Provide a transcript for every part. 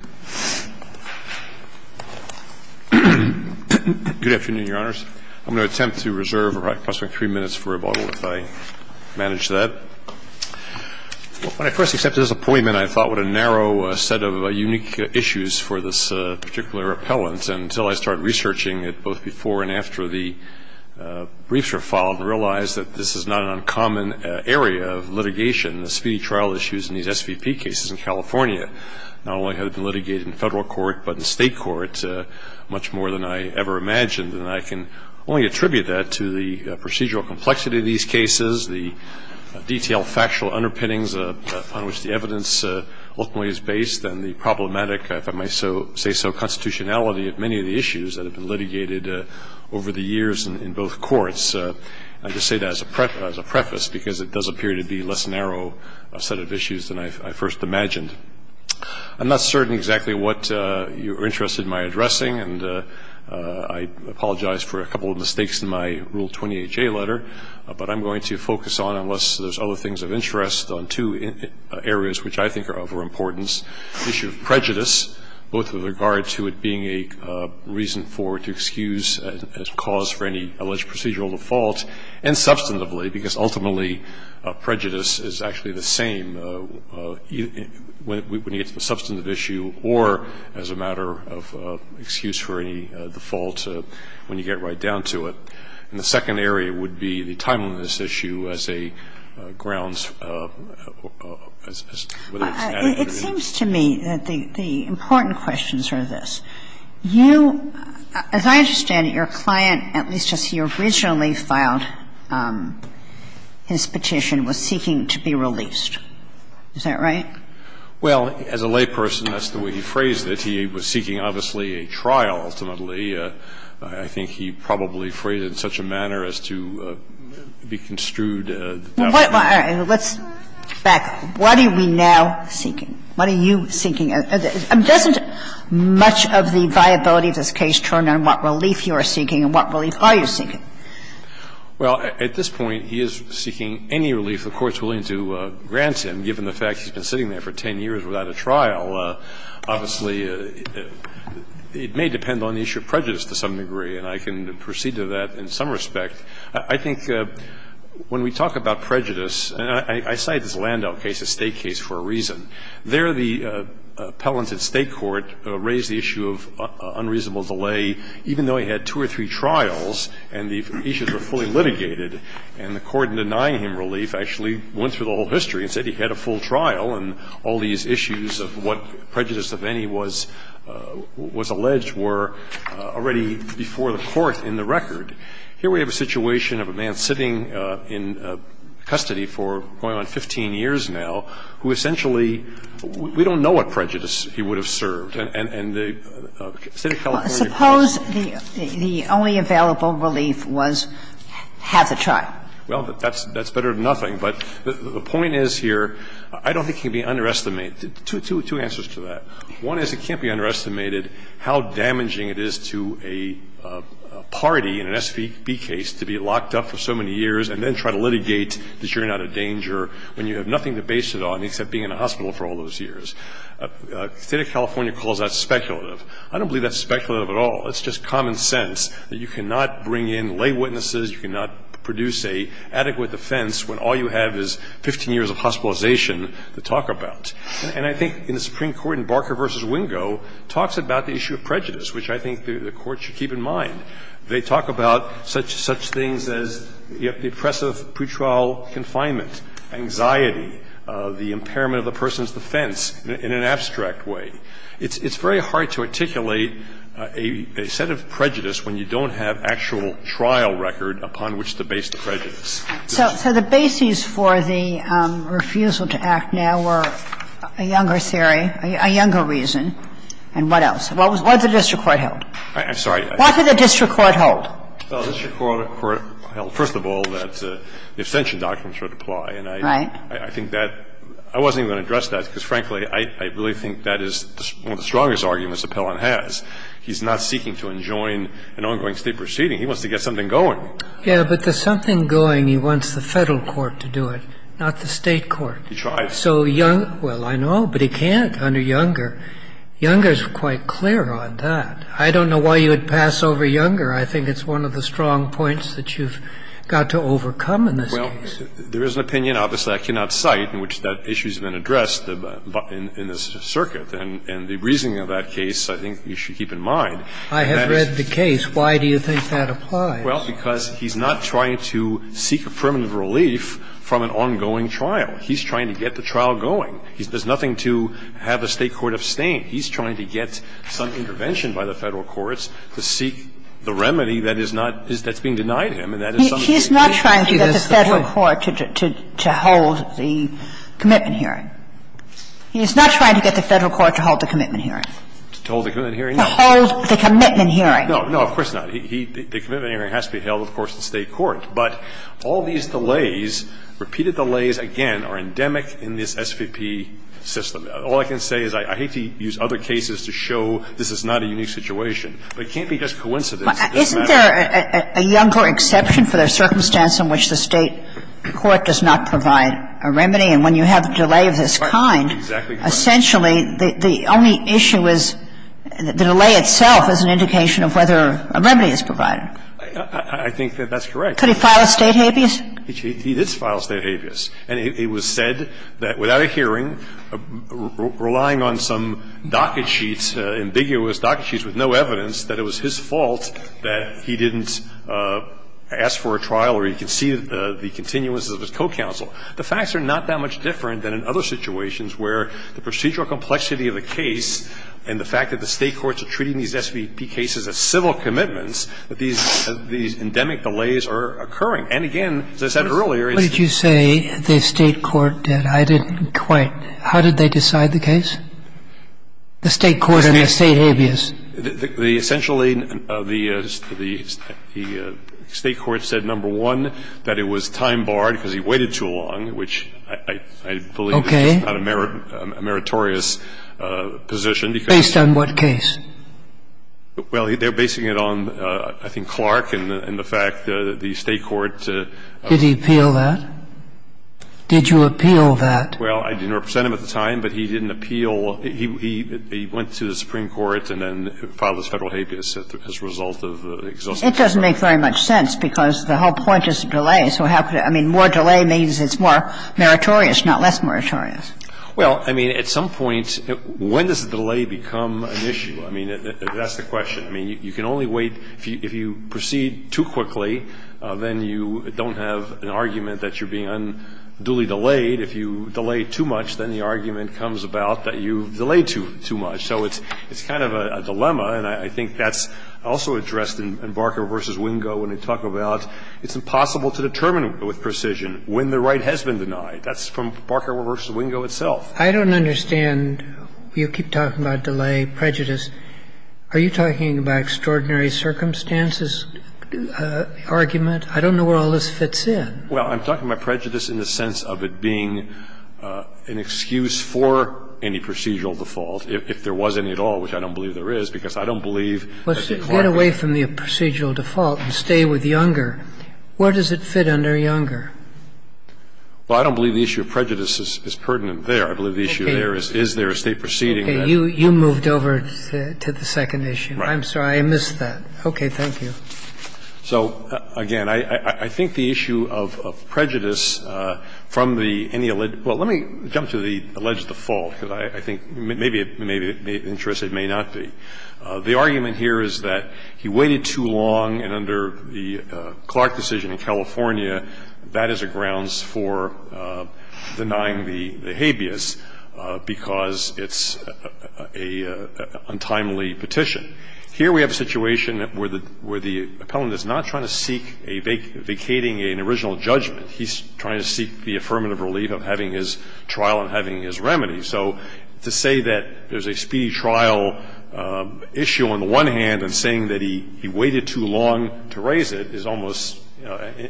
Good afternoon, Your Honors. I'm going to attempt to reserve approximately 3 minutes for rebuttal, if I manage that. When I first accepted this appointment, I thought what a narrow set of unique issues for this particular appellant. And until I started researching it, both before and after the briefs were filed, I realized that this is not an uncommon area of litigation. The speedy trial issues in these SVP cases in California not only have been litigated in Federal court, but in State court, much more than I ever imagined. And I can only attribute that to the procedural complexity of these cases, the detailed factual underpinnings upon which the evidence ultimately is based, and the problematic, if I may say so, constitutionality of many of the issues that have been litigated over the years in both courts. I just say that as a preface, because it does appear to be a less narrow set of issues than I first imagined. I'm not certain exactly what you're interested in my addressing, and I apologize for a couple of mistakes in my Rule 28J letter. But I'm going to focus on, unless there's other things of interest, on two areas which I think are of importance. One is the issue of prejudice, both with regard to it being a reason for, to excuse a cause for any alleged procedural default, and substantively, because ultimately prejudice is actually the same when it's a substantive issue or as a matter of excuse for any default when you get right down to it. And the second area would be the timeliness issue as a grounds, whether it's adequate or not. It seems to me that the important questions are this. You, as I understand it, your client, at least as he originally filed his petition, was seeking to be released. Is that right? Well, as a layperson, that's the way he phrased it. He was seeking, obviously, a trial ultimately. I think he probably phrased it in such a manner as to be construed as a doubtful case. Now, let's back up. What are we now seeking? What are you seeking? Doesn't much of the viability of this case turn on what relief you are seeking and what relief are you seeking? Well, at this point, he is seeking any relief the Court's willing to grant him, given the fact he's been sitting there for 10 years without a trial. Obviously, it may depend on the issue of prejudice to some degree, and I can proceed to that in some respect. I think when we talk about prejudice, and I cite this Landau case, a State case for a reason. There, the appellant at State court raised the issue of unreasonable delay, even though he had two or three trials and the issues were fully litigated. And the Court, in denying him relief, actually went through the whole history and said he had a full trial and all these issues of what prejudice of any was alleged were already before the Court in the record. Here we have a situation of a man sitting in custody for going on 15 years now who essentially, we don't know what prejudice he would have served. And the State of California case. Suppose the only available relief was half a trial. Well, that's better than nothing. But the point is here, I don't think it can be underestimated. Two answers to that. One is it can't be underestimated how damaging it is to a party in an SBB case to be locked up for so many years and then try to litigate the jury not a danger when you have nothing to base it on except being in a hospital for all those years. State of California calls that speculative. I don't believe that's speculative at all. It's just common sense that you cannot bring in lay witnesses, you cannot produce an adequate defense when all you have is 15 years of hospitalization to talk about. And I think in the Supreme Court in Barker v. Wingo talks about the issue of prejudice, which I think the Court should keep in mind. They talk about such things as the oppressive pretrial confinement, anxiety, the impairment of the person's defense in an abstract way. It's very hard to articulate a set of prejudice when you don't have actual trial record upon which to base the prejudice. So the basis for the refusal to act now were a younger theory, a younger reason. And what else? What did the district court hold? I'm sorry. What did the district court hold? Well, the district court held, first of all, that the abstention documents were to apply. Right. And I think that I wasn't even going to address that because, frankly, I really think that is one of the strongest arguments Appellon has. He's not seeking to enjoin an ongoing State proceeding. He wants to get something going. Yeah, but there's something going. He wants the Federal court to do it, not the State court. He tries. So young – well, I know, but he can't under younger. Younger is quite clear on that. I don't know why you would pass over younger. I think it's one of the strong points that you've got to overcome in this case. Well, there is an opinion, obviously, I cannot cite, in which that issue has been addressed in this circuit. And the reasoning of that case I think you should keep in mind. I have read the case. Why do you think that applies? Well, because he's not trying to seek a permanent relief from an ongoing trial. He's trying to get the trial going. There's nothing to have the State court abstain. He's trying to get some intervention by the Federal courts to seek the remedy that is not – that's being denied him, and that is something that he can't do. He's not trying to get the Federal court to hold the commitment hearing. He's not trying to get the Federal court to hold the commitment hearing. To hold the commitment hearing, no. To hold the commitment hearing. No, no, of course not. He – the commitment hearing has to be held, of course, in the State court. But all these delays, repeated delays, again, are endemic in this SVP system. All I can say is I hate to use other cases to show this is not a unique situation, but it can't be just coincidence. It doesn't matter. Isn't there a younger exception for the circumstance in which the State court does not provide a remedy? And when you have a delay of this kind, essentially, the only issue is the delay itself as an indication of whether a remedy is provided. I think that that's correct. Could he file a State habeas? He did file a State habeas. And it was said that without a hearing, relying on some docket sheets, ambiguous docket sheets with no evidence, that it was his fault that he didn't ask for a trial or he conceded the continuance of his co-counsel. The facts are not that much different than in other situations where the procedural complexity of the case and the fact that the State courts are treating these SVP cases as civil commitments, that these endemic delays are occurring. And, again, as I said earlier, it's the case that the State court does not provide a remedy. Roberts, what did you say the State court did? I didn't quite. How did they decide the case, the State court and the State habeas? Essentially, the State court said, number one, that it was time-barred because he waited too long, which I believe is not a meritorious position because Based on what case? Well, they're basing it on, I think, Clark and the fact that the State court Did he appeal that? Did you appeal that? Well, I didn't represent him at the time, but he didn't appeal. He went to the Supreme Court and then filed his Federal habeas as a result of the exhaustive trial. It doesn't make very much sense because the whole point is delay. So how could it – I mean, more delay means it's more meritorious, not less meritorious. Well, I mean, at some point, when does delay become an issue? I mean, that's the question. I mean, you can only wait – if you proceed too quickly, then you don't have an argument that you're being unduly delayed. If you delay too much, then the argument comes about that you've delayed too much. So it's kind of a dilemma, and I think that's also addressed in Barker v. Wingo when they talk about it's impossible to determine with precision when the right has been denied. That's from Barker v. Wingo itself. I don't understand. You keep talking about delay, prejudice. Are you talking about extraordinary circumstances argument? I don't know where all this fits in. Well, I'm talking about prejudice in the sense of it being an excuse for any procedural default, if there was any at all, which I don't believe there is, because I don't believe that the Department of Justice has an excuse for it. But I think that the issue of prejudice is pertinent. Okay. So if you say with younger, where does it fit under younger? Well, I don't believe the issue of prejudice is pertinent there. I believe the issue there is, is there a State proceeding that would fit under younger? Okay. You moved over to the second issue. Right. I'm sorry. I missed that. Okay. Thank you. So, again, I think the issue of prejudice from the any alleged – well, let me jump to the alleged default, because I think maybe it interests, it may not be. The argument here is that he waited too long, and under the Clark decision in California, that is a grounds for denying the habeas because it's an untimely petition. Here we have a situation where the appellant is not trying to seek a vacating an original judgment. He's trying to seek the affirmative relief of having his trial and having his remedy. So to say that there's a speedy trial issue on the one hand and saying that he waited too long to raise it is almost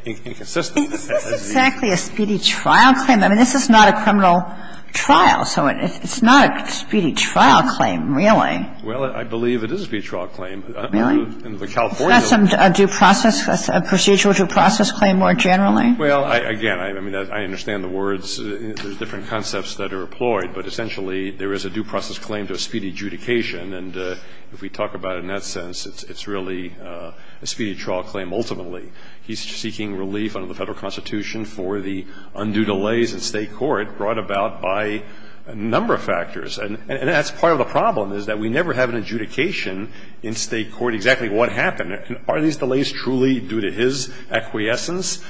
inconsistent. Is this exactly a speedy trial claim? I mean, this is not a criminal trial, so it's not a speedy trial claim, really. Well, I believe it is a speedy trial claim. Really? In the California law. Is that some due process, a procedural due process claim more generally? Well, again, I mean, I understand the words. There's different concepts that are employed, but essentially there is a due process claim to a speedy adjudication, and if we talk about it in that sense, it's really a speedy trial claim ultimately. He's seeking relief under the Federal Constitution for the undue delays in State court brought about by a number of factors. And that's part of the problem, is that we never have an adjudication in State court exactly what happened. Are these delays truly due to his acquiescence?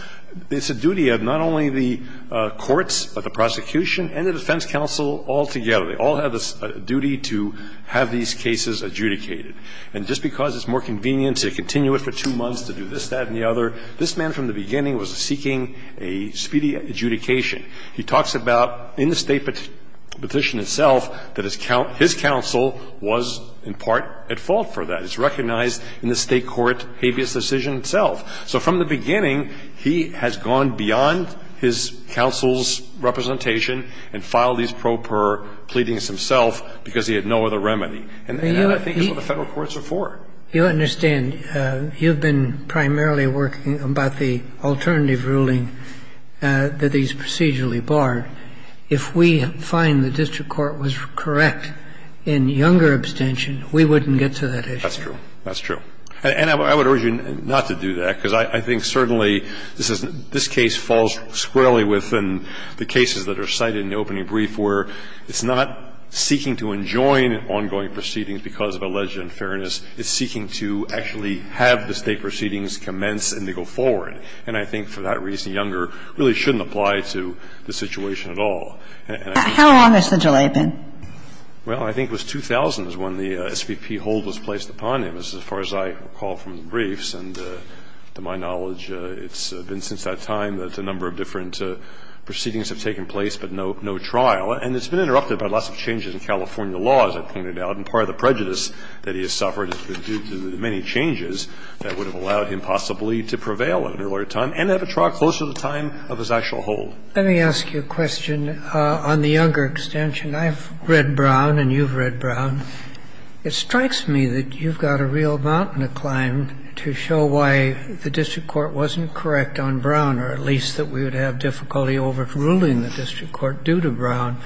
It's a duty of not only the courts, but the prosecution and the defense counsel altogether. They all have a duty to have these cases adjudicated. And just because it's more convenient to continue it for two months, to do this, that, and the other, this man from the beginning was seeking a speedy adjudication. He talks about in the State petition itself that his counsel was in part at fault for that. It's recognized in the State court habeas decision itself. So from the beginning, he has gone beyond his counsel's representation and filed these pro per pleadings himself because he had no other remedy. And that, I think, is what the Federal courts are for. You understand. You've been primarily working about the alternative ruling that these procedures are usually barred. If we find the district court was correct in Younger abstention, we wouldn't get to that issue. That's true. That's true. And I would urge you not to do that, because I think certainly this is this case falls squarely within the cases that are cited in the opening brief where it's not seeking to enjoin ongoing proceedings because of alleged unfairness. It's seeking to actually have the State proceedings commence and to go forward. And I think for that reason, Younger really shouldn't apply to the situation at all. And I think it's true. How long has the delay been? Well, I think it was 2000 is when the SVP hold was placed upon him, as far as I recall from the briefs. And to my knowledge, it's been since that time that a number of different proceedings have taken place, but no trial. And it's been interrupted by lots of changes in California law, as I pointed out. And part of the prejudice that he has suffered is due to the many changes that would have allowed him possibly to prevail at an earlier time and have a trial closer to the time of his actual hold. Let me ask you a question on the Younger extension. I've read Brown and you've read Brown. It strikes me that you've got a real mountain to climb to show why the district court wasn't correct on Brown, or at least that we would have difficulty overruling the district court due to Brown.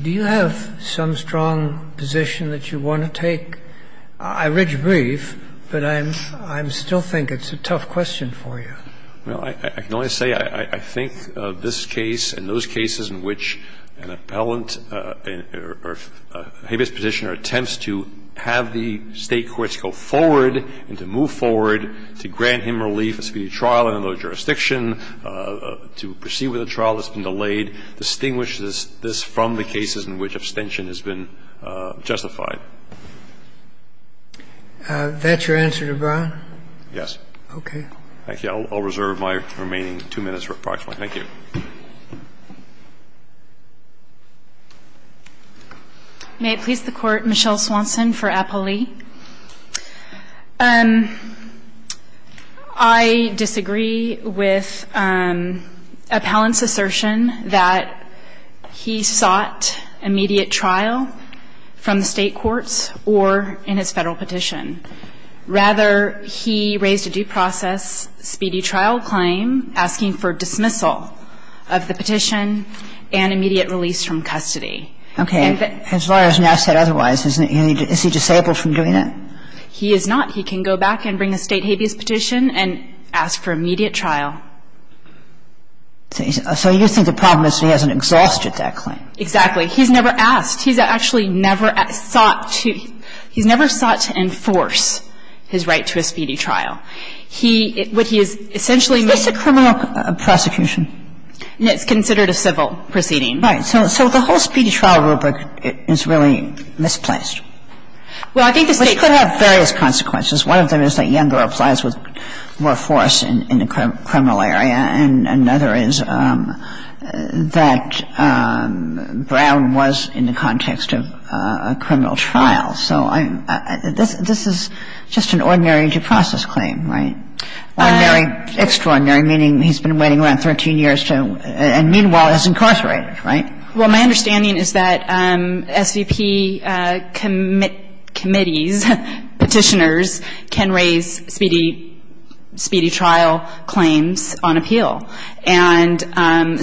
Do you have some strong position that you want to take? I read your brief, but I'm still thinking it's a tough question for you. Well, I can only say I think this case and those cases in which an appellant or habeas petitioner attempts to have the State courts go forward and to move forward to grant him relief at speedy trial under the jurisdiction, to proceed with a trial that's been delayed, distinguish this from the cases in which abstention has been justified. That's your answer to Brown? Yes. Okay. Thank you. I'll reserve my remaining two minutes, approximately. Thank you. May it please the Court, Michelle Swanson for Appellee. I disagree with Appellant's assertion that he sought immediate trial from the State courts or in his Federal petition. Rather, he raised a due process speedy trial claim asking for dismissal of the petition and immediate release from custody. Okay. As far as now said otherwise, is he disabled from doing that? He is not. He can go back and bring a State habeas petition and ask for immediate trial. So you think the problem is he hasn't exhausted that claim? Exactly. He's never asked. He's actually never sought to enforce his right to a speedy trial. He – what he is essentially making Is this a criminal prosecution? It's considered a civil proceeding. Right. So the whole speedy trial rubric is really misplaced. Well, I think the State could have various consequences. One of them is that Yangler applies with more force in the criminal area, and another is that Brown was in the context of a criminal trial. So I'm – this is just an ordinary due process claim, right? Ordinary, extraordinary, meaning he's been waiting around 13 years to – and meanwhile is incarcerated, right? Well, my understanding is that SVP committees, petitioners, can raise speedy – speedy trial claims on appeal. And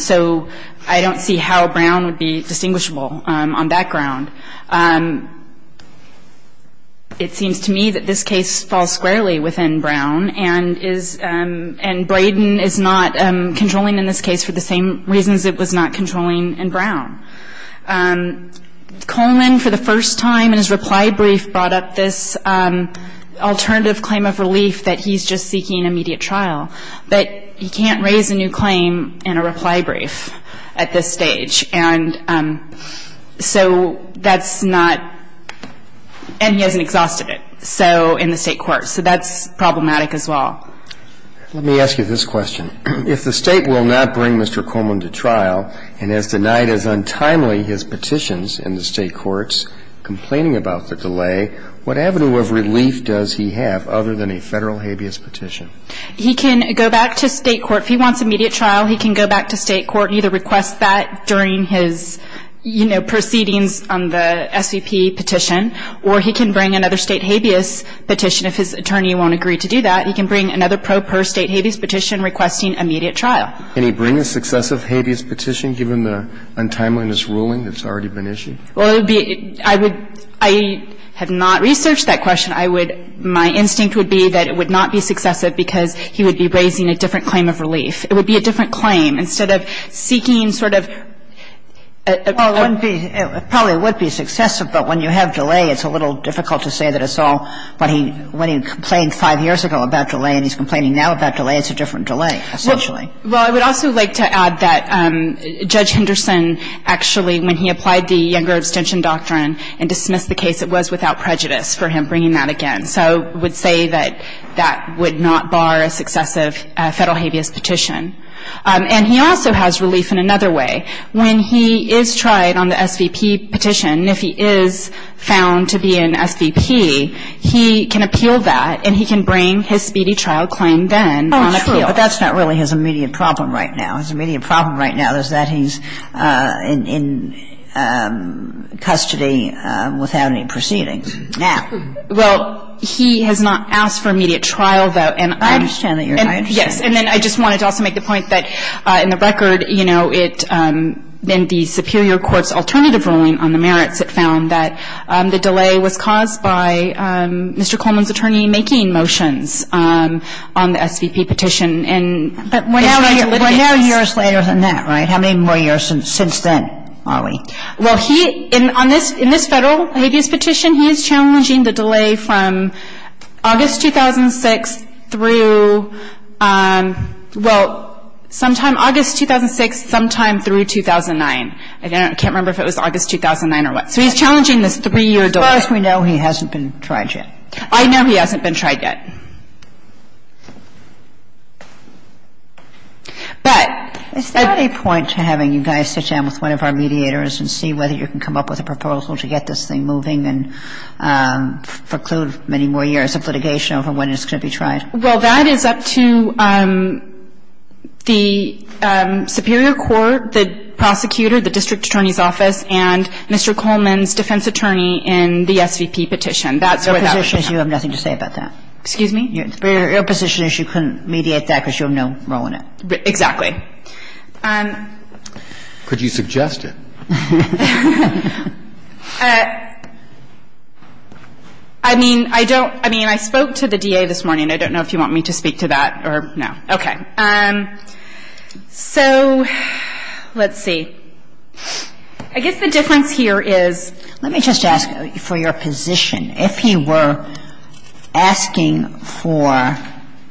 so I don't see how Brown would be distinguishable on that ground. It seems to me that this case falls squarely within Brown, and is – and Braden is not controlling in this case for the same reasons it was not controlling in Brown. Coleman, for the first time in his reply brief, brought up this alternative claim of relief that he's just seeking immediate trial. But he can't raise a new claim in a reply brief at this stage. And so that's not – and he hasn't exhausted it. So – in the State courts. So that's problematic as well. Let me ask you this question. If the State will not bring Mr. Coleman to trial and has denied as untimely his petitions in the State courts, complaining about the delay, what avenue of relief does he have other than a Federal habeas petition? He can go back to State court. If he wants immediate trial, he can go back to State court and either request that during his, you know, proceedings on the SVP petition, or he can bring another State habeas petition if his attorney won't agree to do that. He can bring another pro per State habeas petition requesting immediate trial. Can he bring a successive habeas petition given the untimeliness ruling that's already been issued? Well, it would be – I would – I have not researched that question. I would – my instinct would be that it would not be successive because he would be raising a different claim of relief. It would be a different claim. Instead of seeking sort of a – Well, it wouldn't be – probably it would be successive, but when you have delay, it's a little difficult to say that it's all – when he complained five years ago about delay and he's complaining now about delay, it's a different delay, essentially. Well, I would also like to add that Judge Henderson actually, when he applied the Younger Extension Doctrine and dismissed the case, it was without prejudice for him bringing that again. So I would say that that would not bar a successive Federal habeas petition. And he also has relief in another way. When he is tried on the SVP petition, if he is found to be an SVP, he can appeal that and he can bring his speedy trial claim then on appeal. Oh, sure. But that's not really his immediate problem right now. His immediate problem right now is that he's in custody without any proceedings. Now – Well, he has not asked for immediate trial, though. I understand that, Your Honor. Yes. And then I just wanted to also make the point that in the record, you know, in the Superior Court's alternative ruling on the merits, it found that the delay was caused by Mr. Coleman's attorney making motions on the SVP petition. But we're now years later than that, right? How many more years since then are we? Well, he – in this Federal habeas petition, he is challenging the delay from August 2006 through – well, sometime August 2006, sometime through 2009. I can't remember if it was August 2009 or what. So he's challenging this 3-year delay. As far as we know, he hasn't been tried yet. I know he hasn't been tried yet. But is there a point to having you guys sit down with one of our mediators and see whether you can come up with a proposal to get this thing moving and preclude many more years of litigation over when it's going to be tried? Well, that is up to the Superior Court, the prosecutor, the district attorney's office, and Mr. Coleman's defense attorney in the SVP petition. That's where that should come from. Excuse me? Your position is you couldn't mediate that because you have no role in it. Exactly. Could you suggest it? I mean, I don't – I mean, I spoke to the DA this morning. I don't know if you want me to speak to that or – no. Okay. So let's see. I guess the difference here is – let me just ask for your position. If he were asking for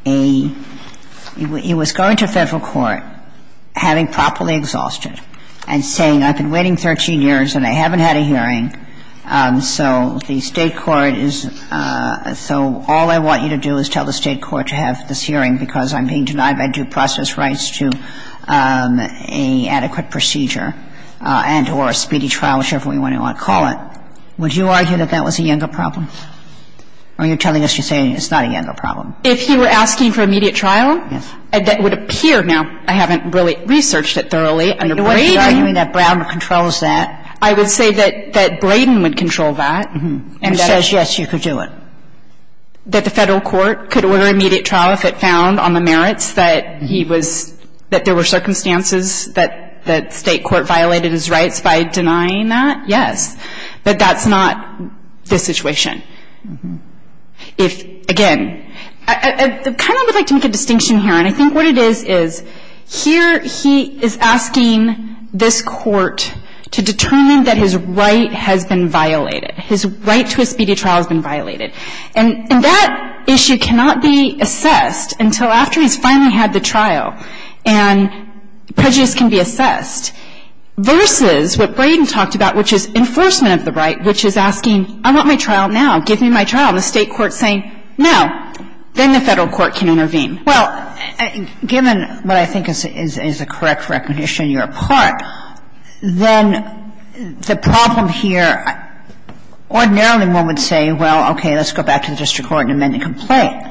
a – he was going to Federal court, having properly exhausted, and saying, I've been waiting 13 years and I haven't had a hearing, so the State court is – so all I want you to do is tell the State court to have this hearing because I'm being denied my due process rights to an adequate procedure and – or a speedy trial, whichever way you want to call it, would you argue that that was a younger problem, or are you telling us you're saying it's not a younger problem? If he were asking for immediate trial, that would appear – now, I haven't really researched it thoroughly under Braden. Are you arguing that Braden controls that? I would say that Braden would control that. He says, yes, you could do it. That the Federal court could order immediate trial if it found, on the merits, that he was – that there were circumstances that the State court violated his rights by denying that? Yes. But that's not the situation. If – again, I kind of would like to make a distinction here, and I think what it is is, here he is asking this court to determine that his right has been violated. His right to a speedy trial has been violated. And that issue cannot be assessed until after he's finally had the trial, and prejudice can be assessed, versus what Braden talked about, which is enforcement of the right, which is asking, I want my trial now. Give me my trial. And the State court is saying, no. Then the Federal court can intervene. Well, given what I think is the correct recognition on your part, then the problem here, ordinarily one would say, well, okay, let's go back to the district court and amend the complaint.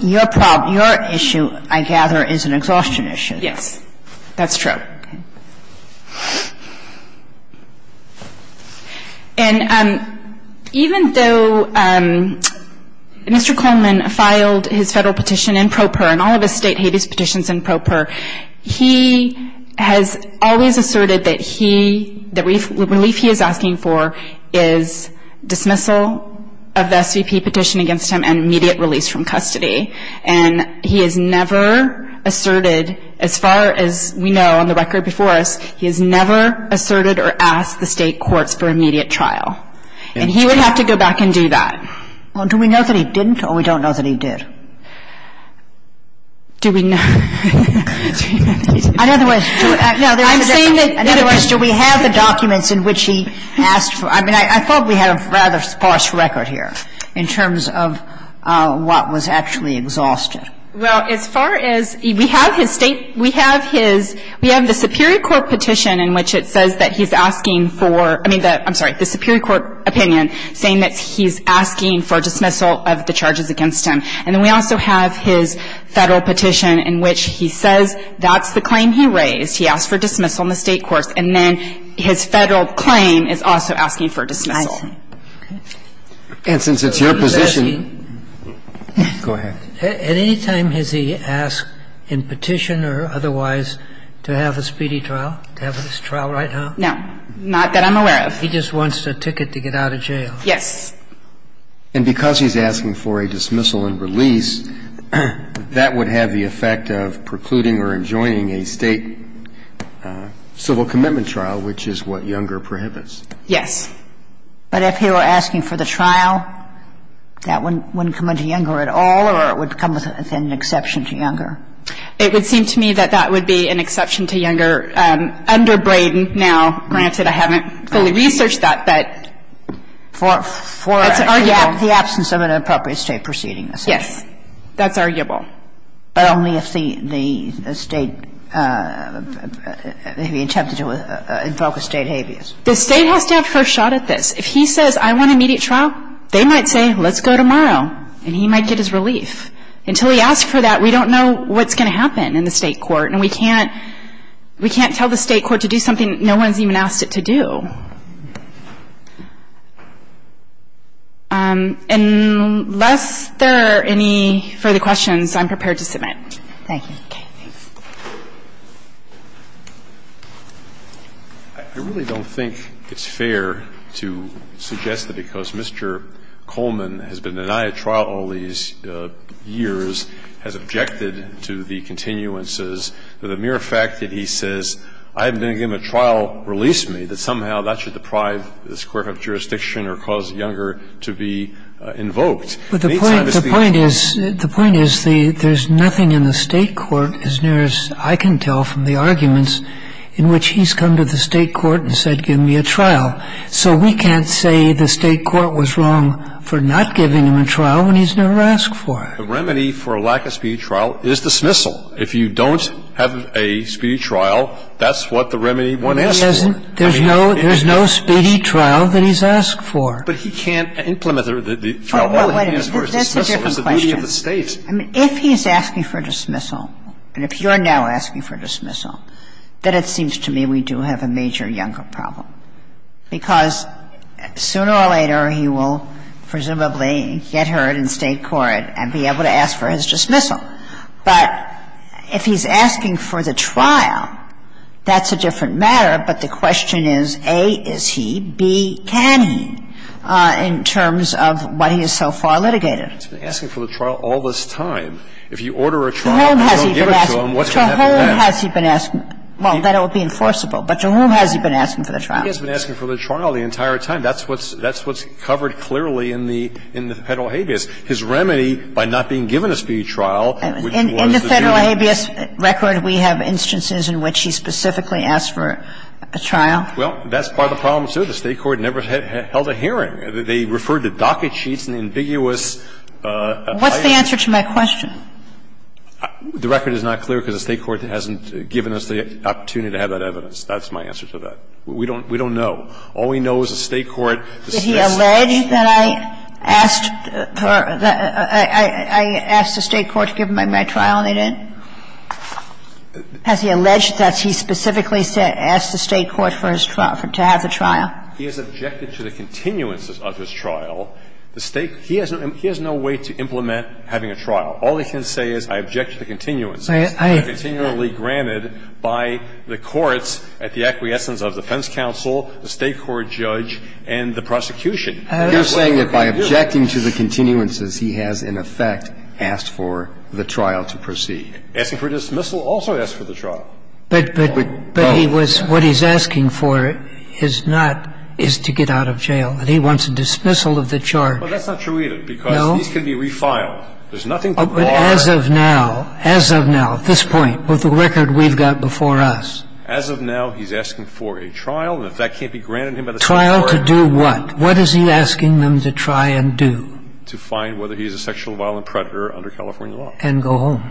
Your problem, your issue, I gather, is an exhaustion issue. Yes. That's true. And even though Mr. Coleman filed his Federal petition in pro per, and all of his State Hades petitions in pro per, he has always asserted that he – the relief he is asking for is dismissal of the SVP petition against him and immediate release from custody. And he has never asserted, as far as we know on the record before us, he has never asserted or asked the State courts for immediate trial. And he would have to go back and do that. Well, do we know that he didn't, or we don't know that he did? Do we know? In other words, do we have the documents in which he asked for – I mean, I thought we had a rather sparse record here in terms of what was actually exhausted. Well, as far as – we have his State – we have his – we have the superior court petition in which it says that he's asking for – I mean, the – I'm sorry, the superior court opinion saying that he's asking for dismissal of the charges against him, and then we also have his Federal petition in which he says that's the claim he raised. He asked for dismissal in the State courts. And then his Federal claim is also asking for dismissal. And since it's your position – Go ahead. At any time has he asked in petition or otherwise to have a speedy trial, to have a trial right now? No. Not that I'm aware of. He just wants a ticket to get out of jail. Yes. And because he's asking for a dismissal and release, that would have the effect of precluding or enjoining a State civil commitment trial, which is what Younger prohibits. Yes. But if he were asking for the trial, that wouldn't come under Younger at all, or it would come with an exception to Younger? It would seem to me that that would be an exception to Younger under Braden now. Granted, I haven't fully researched that. But for – That's arguable. The absence of an appropriate State proceeding, essentially. Yes. That's arguable. But only if the State – if he attempted to invoke a State habeas. The State has to have first shot at this. If he says, I want immediate trial, they might say, let's go tomorrow, and he might get his relief. Until he asks for that, we don't know what's going to happen in the State court, and we can't – we can't tell the State court to do something no one's even asked it to do. Unless there are any further questions, I'm prepared to submit. Thank you. Okay. Thanks. I really don't think it's fair to suggest that because Mr. Coleman has been denied trial all these years, has objected to the continuances, that the mere fact that he says, I'm going to give him a trial, release me, that somehow that should deprive this court of jurisdiction or cause Younger to be invoked. But the point is – the point is the – there's nothing in the State court as near as I can tell from the arguments in which he's come to the State court and said, give me a trial. So we can't say the State court was wrong for not giving him a trial when he's never asked for it. The remedy for a lack of speedy trial is dismissal. If you don't have a speedy trial, that's what the remedy one asks for. There's no – there's no speedy trial that he's asked for. But he can't implement the trial while he's asked for a dismissal. That's a different question. It's the duty of the State. I mean, if he's asking for dismissal, and if you're now asking for dismissal, then it seems to me we do have a major Younger problem, because sooner or later he will presumably get heard in State court and be able to ask for his dismissal. But if he's asking for the trial, that's a different matter. But the question is, A, is he? B, can he, in terms of what he has so far litigated? He's been asking for the trial all this time. If you order a trial and don't give it to him, what's going to happen then? To whom has he been asking? Well, that it would be enforceable. But to whom has he been asking for the trial? He has been asking for the trial the entire time. That's what's covered clearly in the Federal habeas. His remedy, by not being given a speedy trial, which was the duty. In the Federal habeas record, we have instances in which he specifically asked for a trial. Well, that's part of the problem, too. The State court never held a hearing. They referred to docket sheets and ambiguous applications. What's the answer to my question? The record is not clear because the State court hasn't given us the opportunity to have that evidence. That's my answer to that. We don't know. All we know is the State court, the State statute. Did he allege that I asked the State court to give him my trial, and they didn't? Has he alleged that he specifically asked the State court for his trial, to have the trial? He has objected to the continuances of his trial. The State, he has no way to implement having a trial. All he can say is, I object to the continuances. They're continually granted by the courts at the acquiescence of defense counsel, the State court judge, and the prosecution. You're saying that by objecting to the continuances, he has in effect asked for the trial to proceed. Asking for dismissal also asks for the trial. But he was, what he's asking for is not, is to get out of jail. He wants a dismissal of the charge. Well, that's not true either because these can be refiled. There's nothing to bar. But as of now, as of now, at this point, with the record we've got before us. As of now, he's asking for a trial. And if that can't be granted to him by the State court. Trial to do what? What is he asking them to try and do? To find whether he's a sexually violent predator under California law. And go home.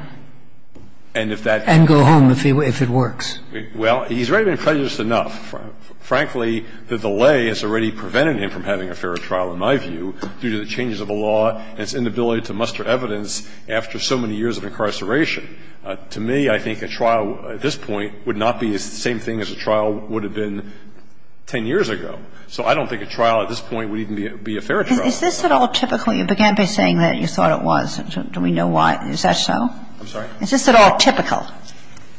And if that. And go home, if it works. Well, he's already been prejudiced enough, frankly, that the lay has already prevented him from having a fair trial, in my view, due to the changes of the law and its inability to muster evidence after so many years of incarceration. To me, I think a trial at this point would not be the same thing as a trial would have been 10 years ago. So I don't think a trial at this point would even be a fair trial. Is this at all typical? You began by saying that you thought it was. Do we know why? Is that so? I'm sorry? Is this at all typical?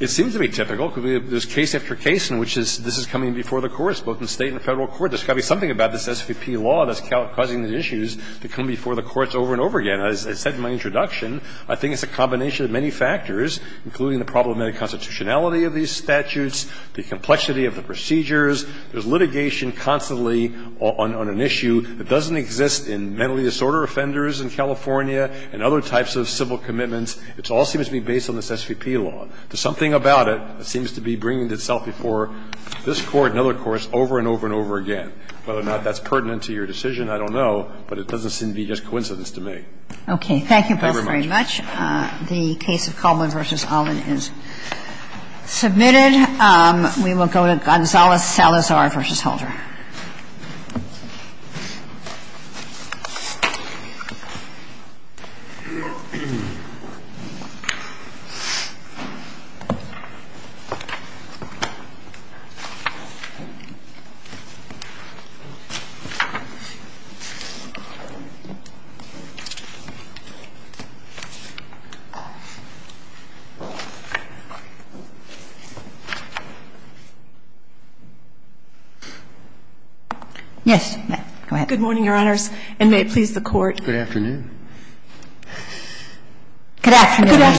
It seems to be typical because there's case after case in which this is coming before the courts, both in the State and the Federal courts. There's got to be something about this SVP law that's causing these issues to come before the courts over and over again. And as I said in my introduction, I think it's a combination of many factors, including the problematic constitutionality of these statutes, the complexity of the procedures. There's litigation constantly on an issue that doesn't exist in mentally disordered offenders in California and other types of civil commitments. It all seems to be based on this SVP law. There's something about it that seems to be bringing itself before this Court and other courts over and over and over again. Whether or not that's pertinent to your decision, I don't know, but it doesn't seem to be just coincidence to me. Okay. Thank you both very much. Thank you very much. The case of Coleman v. Allen is submitted. We will go to Gonzales-Salazar v. Halter. Yes. Go ahead. Good morning, Your Honors. And may it please the Court. Good afternoon.